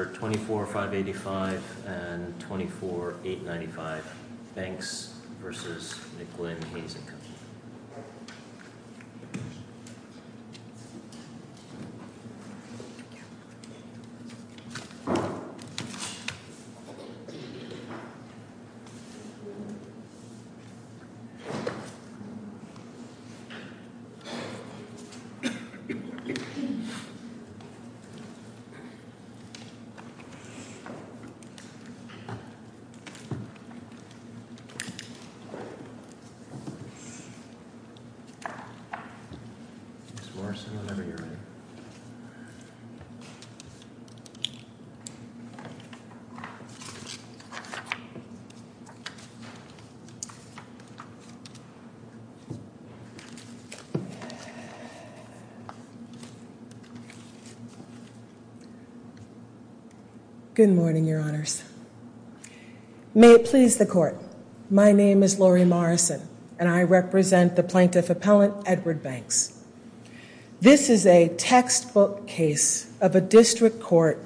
24, 585 and 24, 895 Banks v. McGlynn, Hays & Co., Inc. 24, 585 and 24, 895 Banks v. McGlynn, Hays & Co., Inc. Good morning, Your Honors. May it please the Court, my name is Lori Morrison and I represent the Plaintiff Appellant, Edward Banks. This is a textbook case of a district court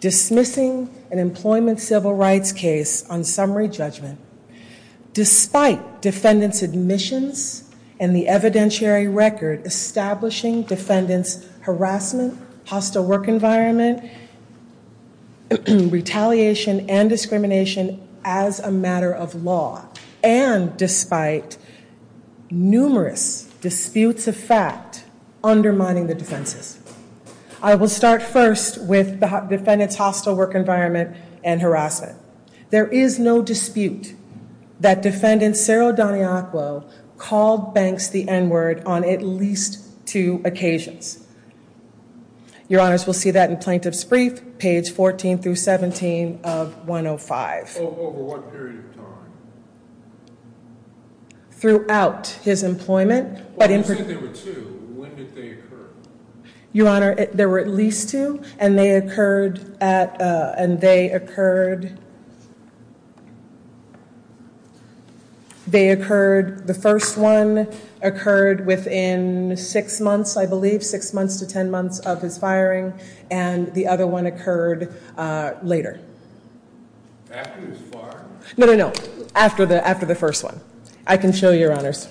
dismissing an employment civil rights case on summary judgment. Despite defendant's admissions and the evidentiary record establishing defendant's harassment, hostile work environment, retaliation and discrimination as a matter of law, and despite numerous disputes of fact undermining the defenses, I will start first with defendant's hostile work environment and harassment. There is no dispute that defendant, Saro Daniacuo, called Banks the N-word on at least two occasions. Your Honors, we'll see that in Plaintiff's Brief, page 14 through 17 of 105. Over what period of time? Throughout his employment. You said there were two, when did they occur? Your Honor, there were at least two, and they occurred at, and they occurred, they occurred, the first one occurred within six months, I believe, six months to ten months of his firing, and the other one occurred later. After his fire? No, no, no, after the first one. I can show you, Your Honors.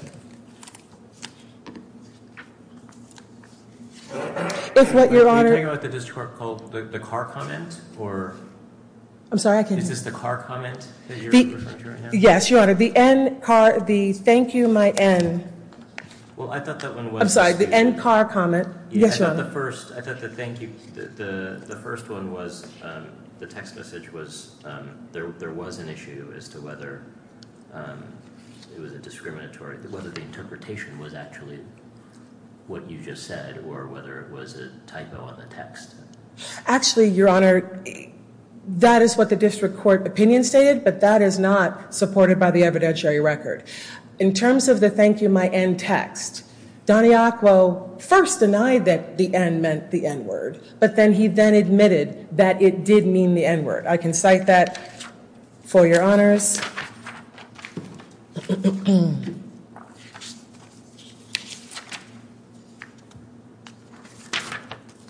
If what, Your Honor. Are you talking about the district court called the Carr comment, or? I'm sorry, I can't hear you. Is this the Carr comment that you're referring to right now? Yes, Your Honor, the N-Carr, the thank you, my N. Well, I thought that one was. I'm sorry, the N-Carr comment. Yes, Your Honor. I thought the first, I thought the thank you, the first one was, the text message was, there was an issue as to whether it was a discriminatory, whether the interpretation was actually what you just said, or whether it was a typo on the text. Actually, Your Honor, that is what the district court opinion stated, but that is not supported by the evidentiary record. In terms of the thank you, my N text, Don Iacuo first denied that the N meant the N-word, but then he then admitted that it did mean the N-word. I can cite that for Your Honors.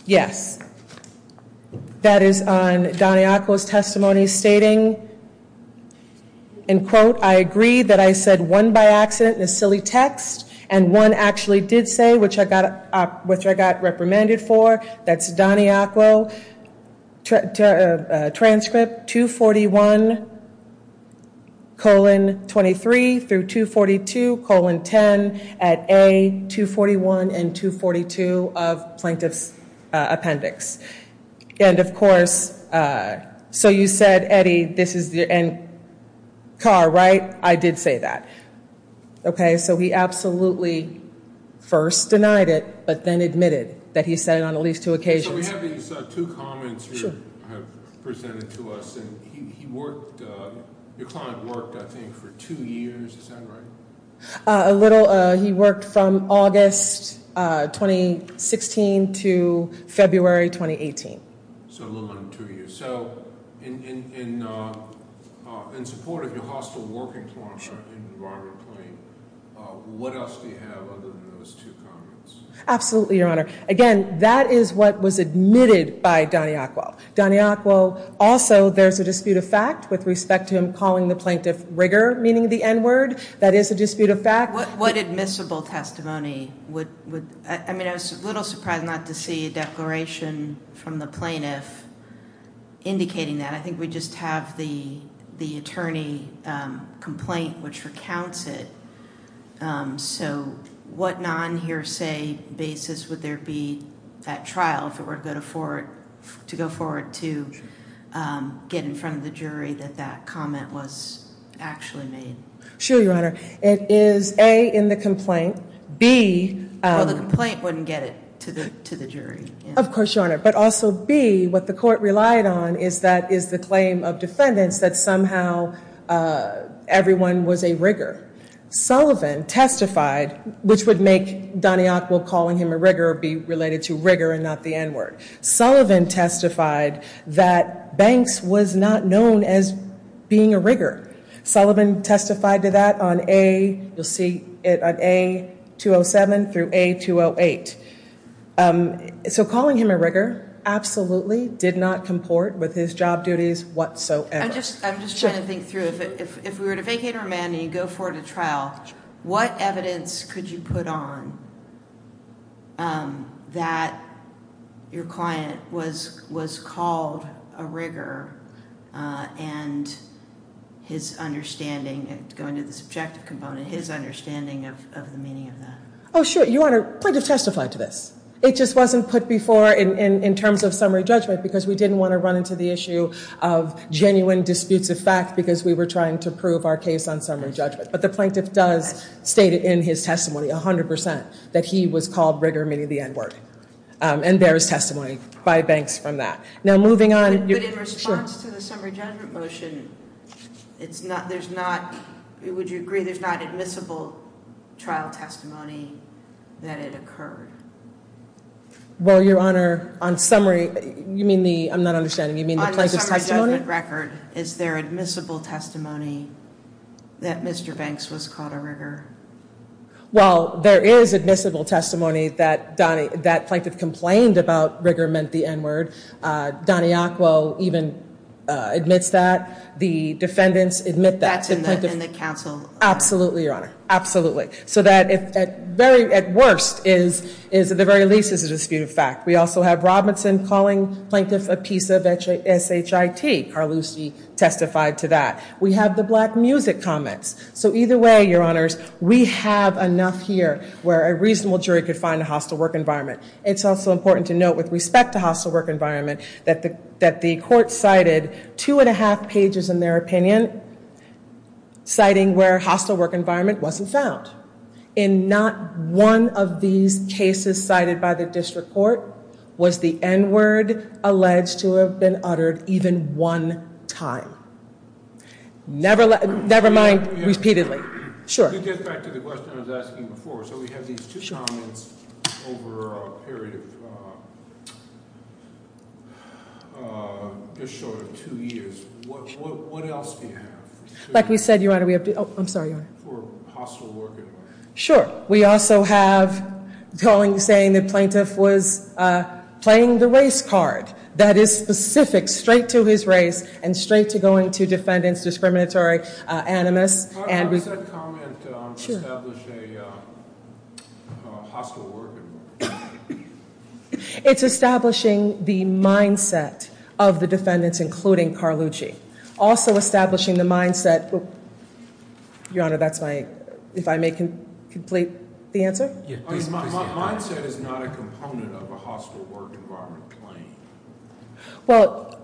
Yes, that is on Don Iacuo's testimony stating, and quote, I agree that I said one by accident in a silly text, and one actually did say, which I got reprimanded for. That's Don Iacuo, transcript 241 colon 23 through 242 colon 10 at A, 241 and 242 of plaintiff's appendix. And, of course, so you said, Eddie, this is the N-Carr, right? I did say that. Okay, so he absolutely first denied it, but then admitted that he said it on at least two occasions. So we have these two comments you have presented to us, and he worked, your client worked, I think, for two years. Is that right? A little. He worked from August 2016 to February 2018. So a little more than two years. So in support of your hostile working client, Robert Klain, what else do you have other than those two comments? Absolutely, Your Honor. Again, that is what was admitted by Don Iacuo. Don Iacuo also, there's a dispute of fact with respect to him calling the plaintiff rigor, meaning the N-word. That is a dispute of fact. What admissible testimony would, I mean, I was a little surprised not to see a declaration from the plaintiff indicating that. I think we just have the attorney complaint which recounts it. So what non-hearsay basis would there be at trial if it were to go forward to get in front of the jury that that comment was actually made? Sure, Your Honor. It is A, in the complaint. B, Well, the complaint wouldn't get it to the jury. Of course, Your Honor. But also B, what the court relied on is that is the claim of defendants that somehow everyone was a rigor. Sullivan testified, which would make Don Iacuo calling him a rigor be related to rigor and not the N-word. Sullivan testified that Banks was not known as being a rigor. Sullivan testified to that on A, you'll see it on A-207 through A-208. So calling him a rigor absolutely did not comport with his job duties whatsoever. I'm just trying to think through. If we were to vacate a remand and you go forward to trial, what evidence could you put on that your client was called a rigor and his understanding, going to the subjective component, his understanding of the meaning of that? Oh, sure. Your Honor, the plaintiff testified to this. It just wasn't put before in terms of summary judgment because we didn't want to run into the issue of genuine disputes of fact because we were trying to prove our case on summary judgment. But the plaintiff does state in his testimony 100% that he was called rigor, meaning the N-word. And there is testimony by Banks from that. But in response to the summary judgment motion, would you agree there's not admissible trial testimony that it occurred? Well, Your Honor, on summary, you mean the, I'm not understanding, you mean the plaintiff's testimony? On the summary judgment record, is there admissible testimony that Mr. Banks was called a rigor? Well, there is admissible testimony that that plaintiff complained about rigor meant the N-word. Don Iacquo even admits that. The defendants admit that. That's in the counsel. Absolutely, Your Honor. Absolutely. So that at worst is, at the very least, is a dispute of fact. We also have Robinson calling plaintiffs a piece of SHIT. Carlucci testified to that. We have the Black Music comments. So either way, Your Honors, we have enough here where a reasonable jury could find a hostile work environment. It's also important to note with respect to hostile work environment that the court cited two and a half pages in their opinion, citing where hostile work environment wasn't found. In not one of these cases cited by the district court was the N-word alleged to have been uttered even one time. Never mind repeatedly. Sure. To get back to the question I was asking before, so we have these two comments over a period of just short of two years. What else do you have? Like we said, Your Honor, we have two. Oh, I'm sorry, Your Honor. For hostile work environment. Sure. We also have saying the plaintiff was playing the race card. That is specific straight to his race and straight to going to defendants, discriminatory, animus. How does that comment establish a hostile work environment? It's establishing the mindset of the defendants, including Carlucci. Also establishing the mindset, Your Honor, that's my, if I may complete the answer. Mindset is not a component of a hostile work environment claim. Well,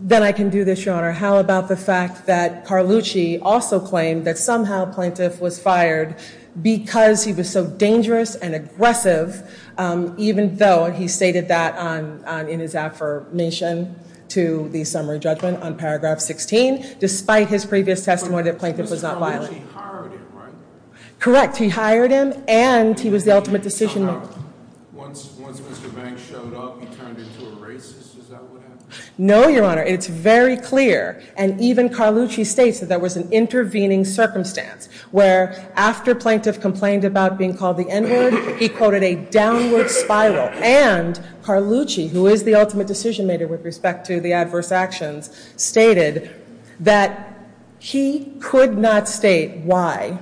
then I can do this, Your Honor. How about the fact that Carlucci also claimed that somehow plaintiff was fired because he was so dangerous and aggressive, even though he stated that in his affirmation to the summary judgment on paragraph 16, despite his previous testimony that the plaintiff was not violent. Carlucci hired him, right? Correct. He hired him, and he was the ultimate decision maker. Once Mr. Banks showed up, he turned into a racist. Is that what happened? No, Your Honor. It's very clear, and even Carlucci states that there was an intervening circumstance, where after plaintiff complained about being called the N-word, he quoted a downward spiral, and Carlucci, who is the ultimate decision maker with respect to the adverse actions, stated that he could not state why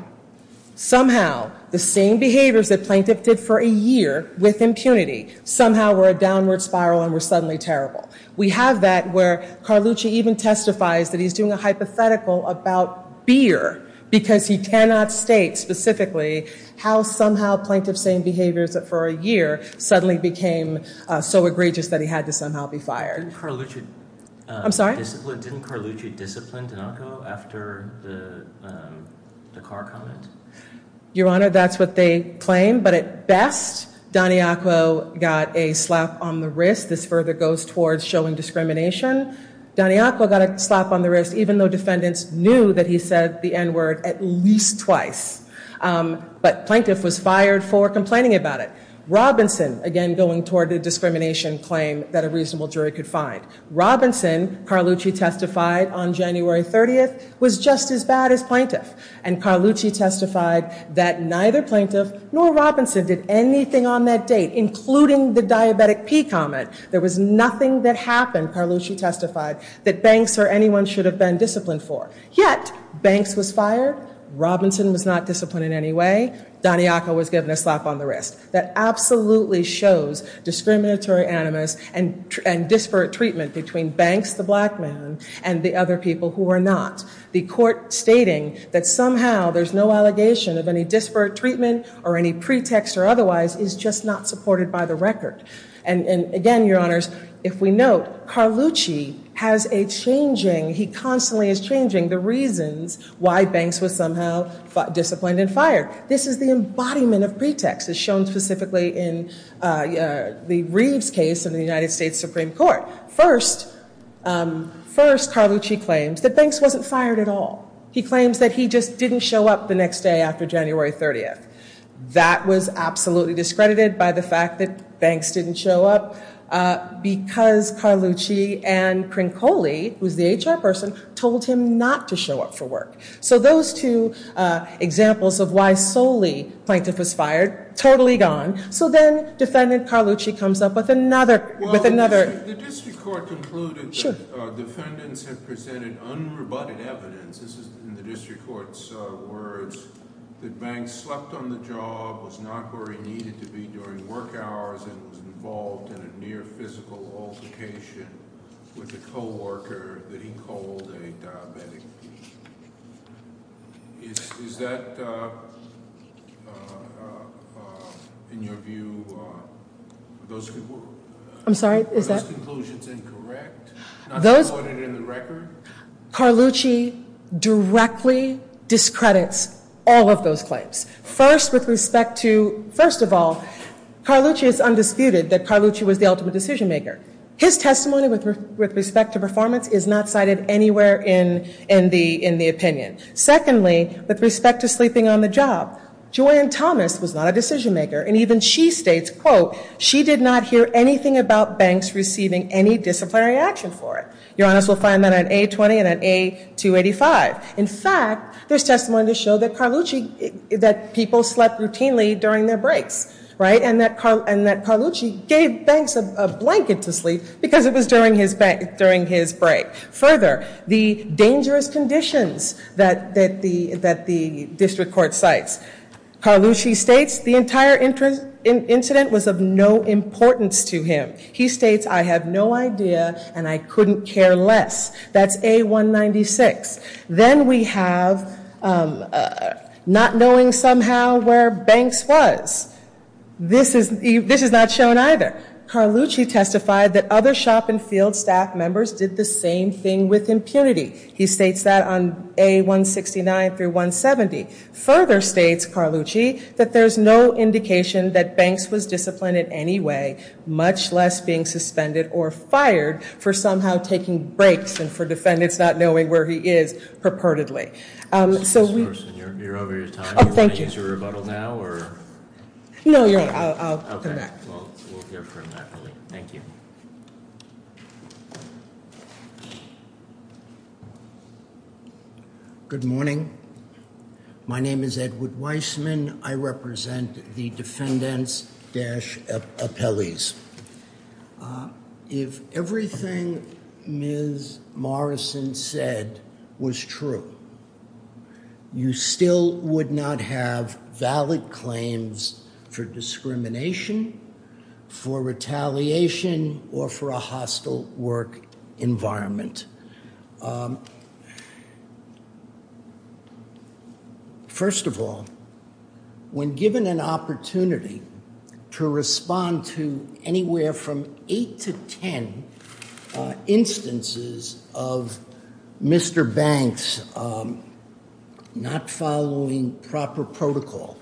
somehow the same behaviors that plaintiff did for a year with impunity somehow were a downward spiral and were suddenly terrible. We have that where Carlucci even testifies that he's doing a hypothetical about beer because he cannot state specifically how somehow plaintiff's same behaviors for a year suddenly became so egregious that he had to somehow be fired. Didn't Carlucci discipline Donaco after the car comment? Your Honor, that's what they claim, but at best, Donaco got a slap on the wrist. This further goes towards showing discrimination. Donaco got a slap on the wrist, even though defendants knew that he said the N-word at least twice. But plaintiff was fired for complaining about it. Robinson, again, going toward the discrimination claim that a reasonable jury could find. Robinson, Carlucci testified on January 30th, was just as bad as plaintiff, and Carlucci testified that neither plaintiff nor Robinson did anything on that date, including the diabetic pee comment. There was nothing that happened, Carlucci testified, that Banks or anyone should have been disciplined for. Yet Banks was fired, Robinson was not disciplined in any way, Donaco was given a slap on the wrist. That absolutely shows discriminatory animus and disparate treatment between Banks, the black man, and the other people who are not. The court stating that somehow there's no allegation of any disparate treatment or any pretext or otherwise is just not supported by the record. And again, your honors, if we note, Carlucci has a changing, he constantly is changing the reasons why Banks was somehow disciplined and fired. This is the embodiment of pretext as shown specifically in the Reeves case in the United States Supreme Court. First, Carlucci claims that Banks wasn't fired at all. He claims that he just didn't show up the next day after January 30th. That was absolutely discredited by the fact that Banks didn't show up because Carlucci and Crincoli, who's the HR person, told him not to show up for work. So those two examples of why solely plaintiff was fired, totally gone. So then defendant Carlucci comes up with another... The district court concluded that defendants have presented unrebutted evidence, this is in the district court's words, that Banks slept on the job, was not where he needed to be during work hours, and was involved in a near physical altercation with a co-worker that he called a diabetic. Is that, in your view, are those conclusions incorrect? Not reported in the record? Carlucci directly discredits all of those claims. First with respect to, first of all, Carlucci is undisputed that Carlucci was the ultimate decision maker. His testimony with respect to performance is not cited anywhere in the opinion. Secondly, with respect to sleeping on the job, Joanne Thomas was not a decision maker, and even she states, quote, she did not hear anything about Banks receiving any disciplinary action for it. Your Honest will find that on A-20 and on A-285. In fact, there's testimony to show that Carlucci, that people slept routinely during their breaks. And that Carlucci gave Banks a blanket to sleep because it was during his break. Further, the dangerous conditions that the district court cites. Carlucci states the entire incident was of no importance to him. He states, I have no idea and I couldn't care less. That's A-196. Then we have not knowing somehow where Banks was. This is not shown either. Carlucci testified that other shop and field staff members did the same thing with impunity. He states that on A-169 through 170. Further states Carlucci that there's no indication that Banks was disciplined in any way, much less being suspended or fired for somehow taking breaks and for defendants not knowing where he is purportedly. So- You're over your time. Thank you. Do you want to use your rebuttal now or? No, I'll come back. We'll hear from that. Thank you. Good morning. My name is Edward Weissman. I represent the defendants-appellees. If everything Ms. Morrison said was true, you still would not have valid claims for discrimination, for retaliation, or for a hostile work environment. First of all, when given an opportunity to respond to anywhere from eight to ten instances of Mr. Banks not following proper protocol,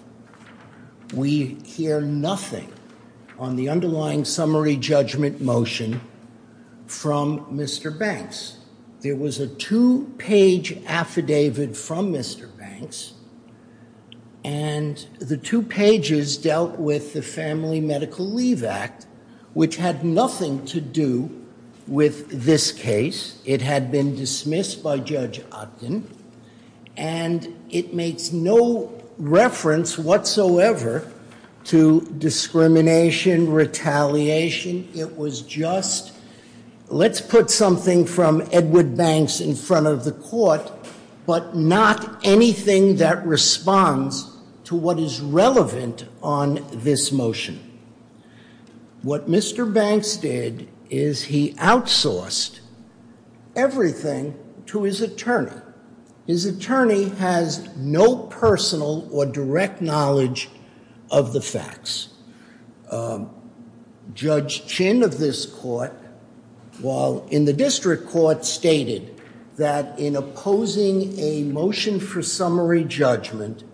we hear nothing on the underlying summary judgment motion from Mr. Banks. There was a two-page affidavit from Mr. Banks, and the two pages dealt with the Family Medical Leave Act, which had nothing to do with this case. It had been dismissed by Judge Otten, and it makes no reference whatsoever to discrimination, retaliation. It was just, let's put something from Edward Banks in front of the court, but not anything that responds to what is relevant on this motion. What Mr. Banks did is he outsourced everything to his attorney. His attorney has no personal or direct knowledge of the facts. Judge Chin of this court, while in the district court, stated that in opposing a motion for summary judgment,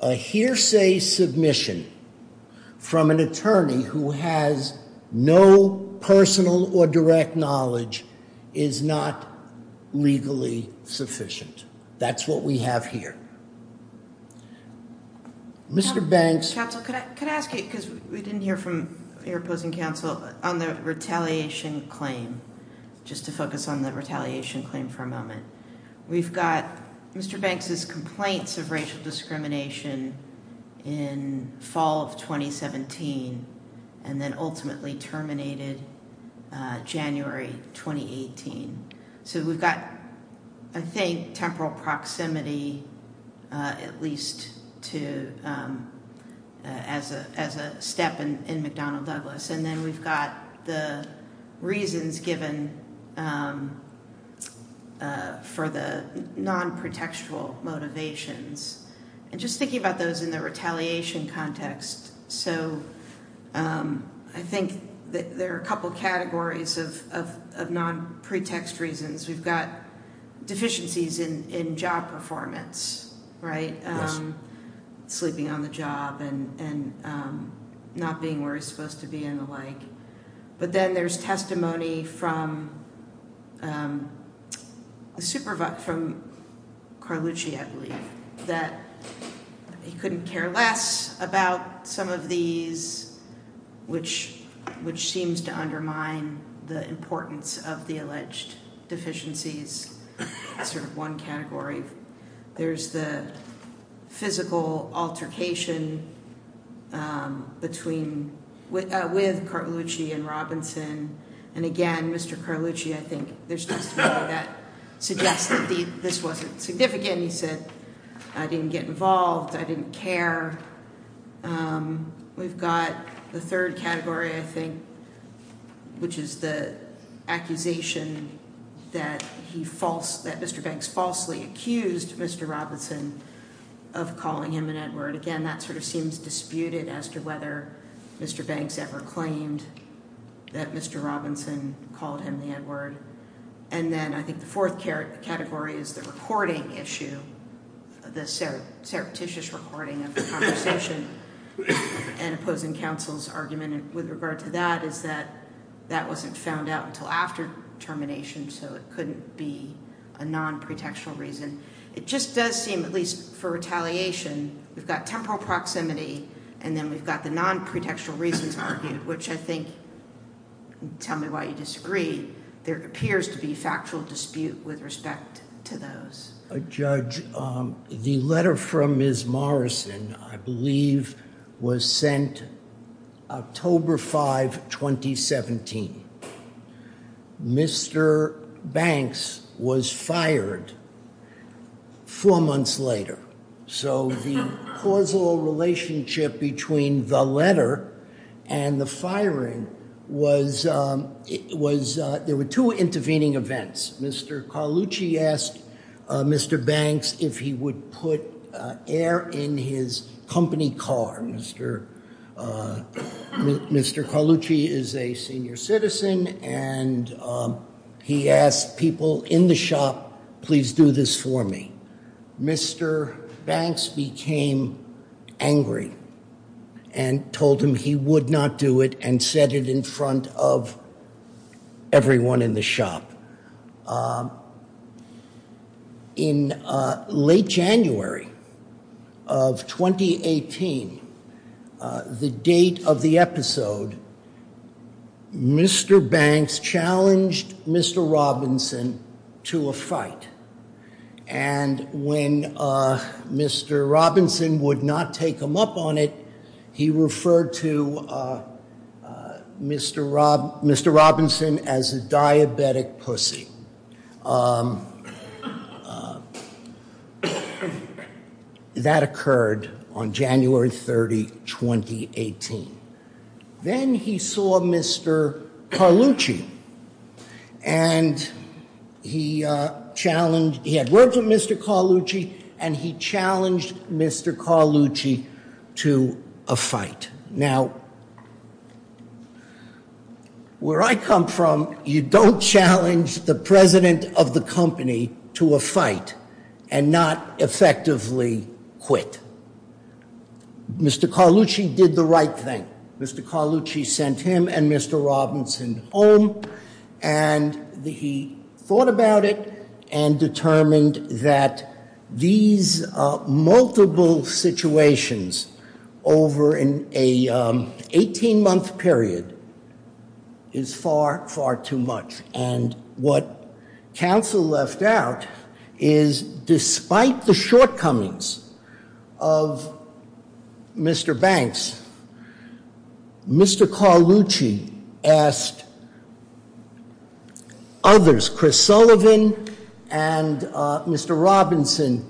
a hearsay submission from an attorney who has no personal or direct knowledge is not legally sufficient. That's what we have here. Mr. Banks... Counsel, could I ask you, because we didn't hear from your opposing counsel, on the retaliation claim? Just to focus on the retaliation claim for a moment. We've got Mr. Banks' complaints of racial discrimination in fall of 2017, and then ultimately terminated January 2018. We've got, I think, temporal proximity, at least as a step in McDonnell-Douglas. Then we've got the reasons given for the non-protextual motivations. Just thinking about those in the retaliation context, I think there are a couple categories of non-pretext reasons. We've got deficiencies in job performance, right? Yes. Sleeping on the job and not being where he's supposed to be and the like. But then there's testimony from Carlucci, I believe, that he couldn't care less about some of these, which seems to undermine the importance of the alleged deficiencies. That's one category. There's the physical altercation with Carlucci and Robinson. And again, Mr. Carlucci, I think, there's testimony that suggests that this wasn't significant. He said, I didn't get involved, I didn't care. We've got the third category, I think, which is the accusation that Mr. Banks falsely accused Mr. Robinson of calling him an N-word. Again, that sort of seems disputed as to whether Mr. Banks ever claimed that Mr. Robinson called him the N-word. And then I think the fourth category is the reporting issue, the surreptitious recording of the conversation and opposing counsel's argument with regard to that is that that wasn't found out until after termination, so it couldn't be a non-pretextual reason. It just does seem, at least for retaliation, we've got temporal proximity and then we've got the non-pretextual reasons argued, which I think, tell me why you disagree, there appears to be factual dispute with respect to those. Judge, the letter from Ms. Morrison, I believe, was sent October 5, 2017. Mr. Banks was fired four months later. So the causal relationship between the letter and the firing was there were two intervening events. Mr. Carlucci asked Mr. Banks if he would put air in his company car. Mr. Carlucci is a senior citizen and he asked people in the shop, please do this for me. Mr. Banks became angry and told him he would not do it and said it in front of everyone in the shop. In late January of 2018, the date of the episode, Mr. Banks challenged Mr. Robinson to a fight and when Mr. Robinson would not take him up on it, he referred to Mr. Robinson as a diabetic pussy. That occurred on January 30, 2018. Then he saw Mr. Carlucci and he had words with Mr. Carlucci and he challenged Mr. Carlucci to a fight. Now, where I come from, you don't challenge the president of the company to a fight and not effectively quit. Mr. Carlucci did the right thing. Mr. Carlucci sent him and Mr. Robinson home and he thought about it and determined that these multiple situations over an 18-month period is far, far too much. What counsel left out is despite the shortcomings of Mr. Banks, Mr. Carlucci asked others, Chris Sullivan and Mr. Robinson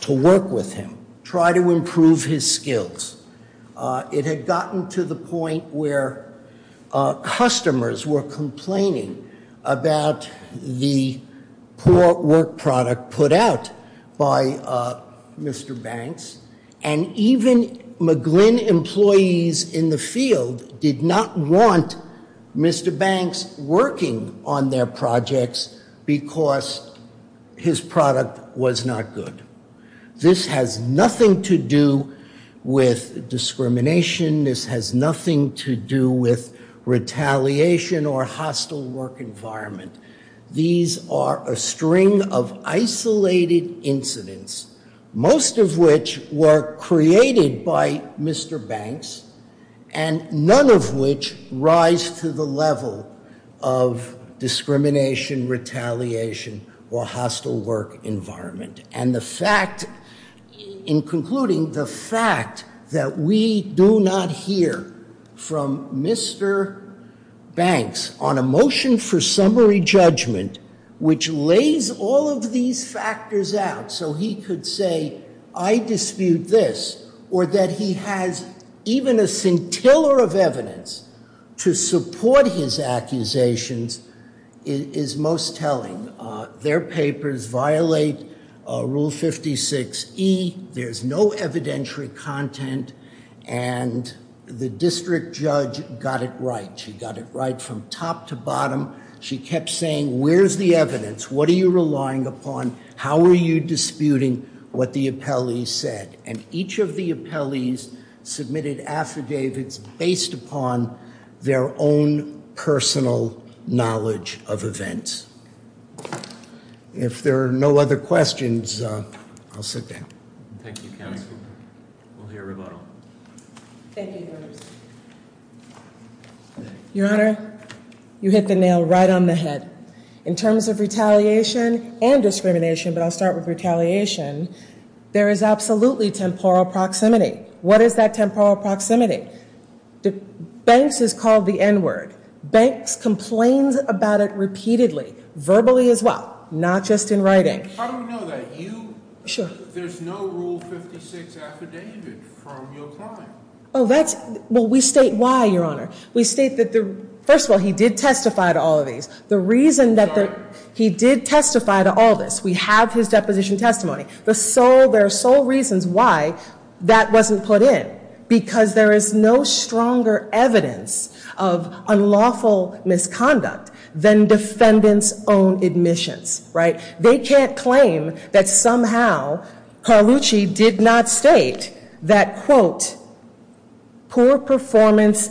to work with him, try to improve his skills. It had gotten to the point where customers were complaining about the poor work product put out by Mr. Banks and even McGlynn employees in the field did not want Mr. Banks working on their projects because his product was not good. This has nothing to do with discrimination. This has nothing to do with retaliation or hostile work environment. These are a string of isolated incidents, most of which were created by Mr. Banks and none of which rise to the level of discrimination, retaliation or hostile work environment. And the fact, in concluding, the fact that we do not hear from Mr. Banks on a motion for summary judgment which lays all of these factors out so he could say, I dispute this, or that he has even a scintilla of evidence to support his accusations is most telling. Their papers violate Rule 56E. There's no evidentiary content and the district judge got it right. She got it right from top to bottom. She kept saying, where's the evidence? What are you relying upon? How are you disputing what the appellees said? And each of the appellees submitted affidavits based upon their own personal knowledge of events. If there are no other questions, I'll sit down. Thank you, counsel. We'll hear rebuttal. Thank you, Your Honor. Your Honor, you hit the nail right on the head. In terms of retaliation and discrimination, but I'll start with retaliation, there is absolutely temporal proximity. What is that temporal proximity? Banks has called the N-word. Banks complains about it repeatedly, verbally as well, not just in writing. How do we know that? There's no Rule 56 affidavit from your client. Well, we state why, Your Honor. We state that, first of all, he did testify to all of these. The reason that he did testify to all this, we have his deposition testimony. There are sole reasons why that wasn't put in, because there is no stronger evidence of unlawful misconduct than defendants' own admissions. They can't claim that somehow Carlucci did not state that, quote, poor performance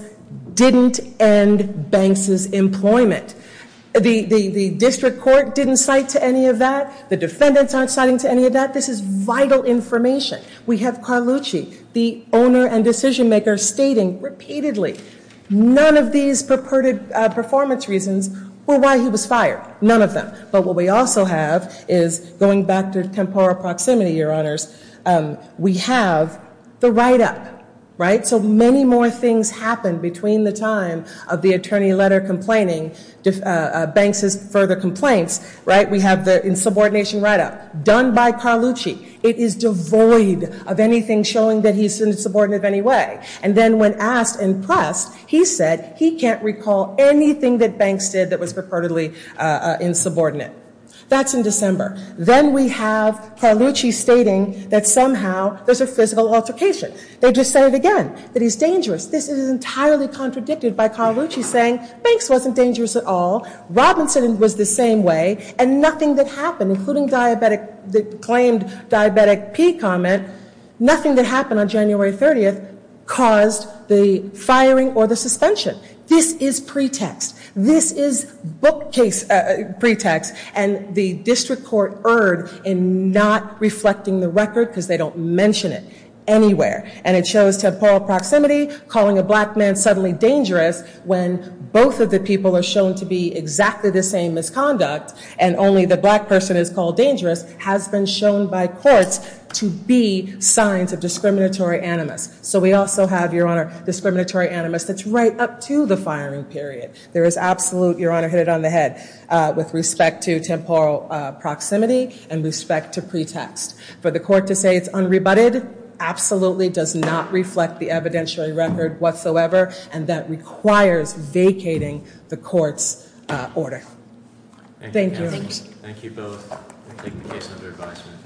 didn't end Banks's employment. The district court didn't cite to any of that. The defendants aren't citing to any of that. This is vital information. We have Carlucci, the owner and decision-maker, stating repeatedly, none of these perverted performance reasons were why he was fired, none of them. But what we also have is, going back to temporal proximity, Your Honors, we have the write-up, right? So many more things happened between the time of the attorney letter complaining, Banks's further complaints, right? We have the insubordination write-up done by Carlucci. It is devoid of anything showing that he's insubordinate in any way. And then when asked and pressed, he said he can't recall anything that Banks did that was purportedly insubordinate. That's in December. Then we have Carlucci stating that somehow there's a physical altercation. They just say it again, that he's dangerous. This is entirely contradicted by Carlucci saying Banks wasn't dangerous at all, Robinson was the same way, and nothing that happened, including the claimed diabetic P comment, nothing that happened on January 30th caused the firing or the suspension. This is pretext. This is bookcase pretext. And the district court erred in not reflecting the record because they don't mention it anywhere. And it shows temporal proximity calling a black man suddenly dangerous when both of the people are shown to be exactly the same misconduct and only the black person is called dangerous has been shown by courts to be signs of discriminatory animus. So we also have, Your Honor, discriminatory animus that's right up to the firing period. There is absolute, Your Honor, hit it on the head, with respect to temporal proximity and respect to pretext. For the court to say it's unrebutted absolutely does not reflect the evidentiary record whatsoever, and that requires vacating the court's order. Thank you. Thank you both for taking the case under advisement.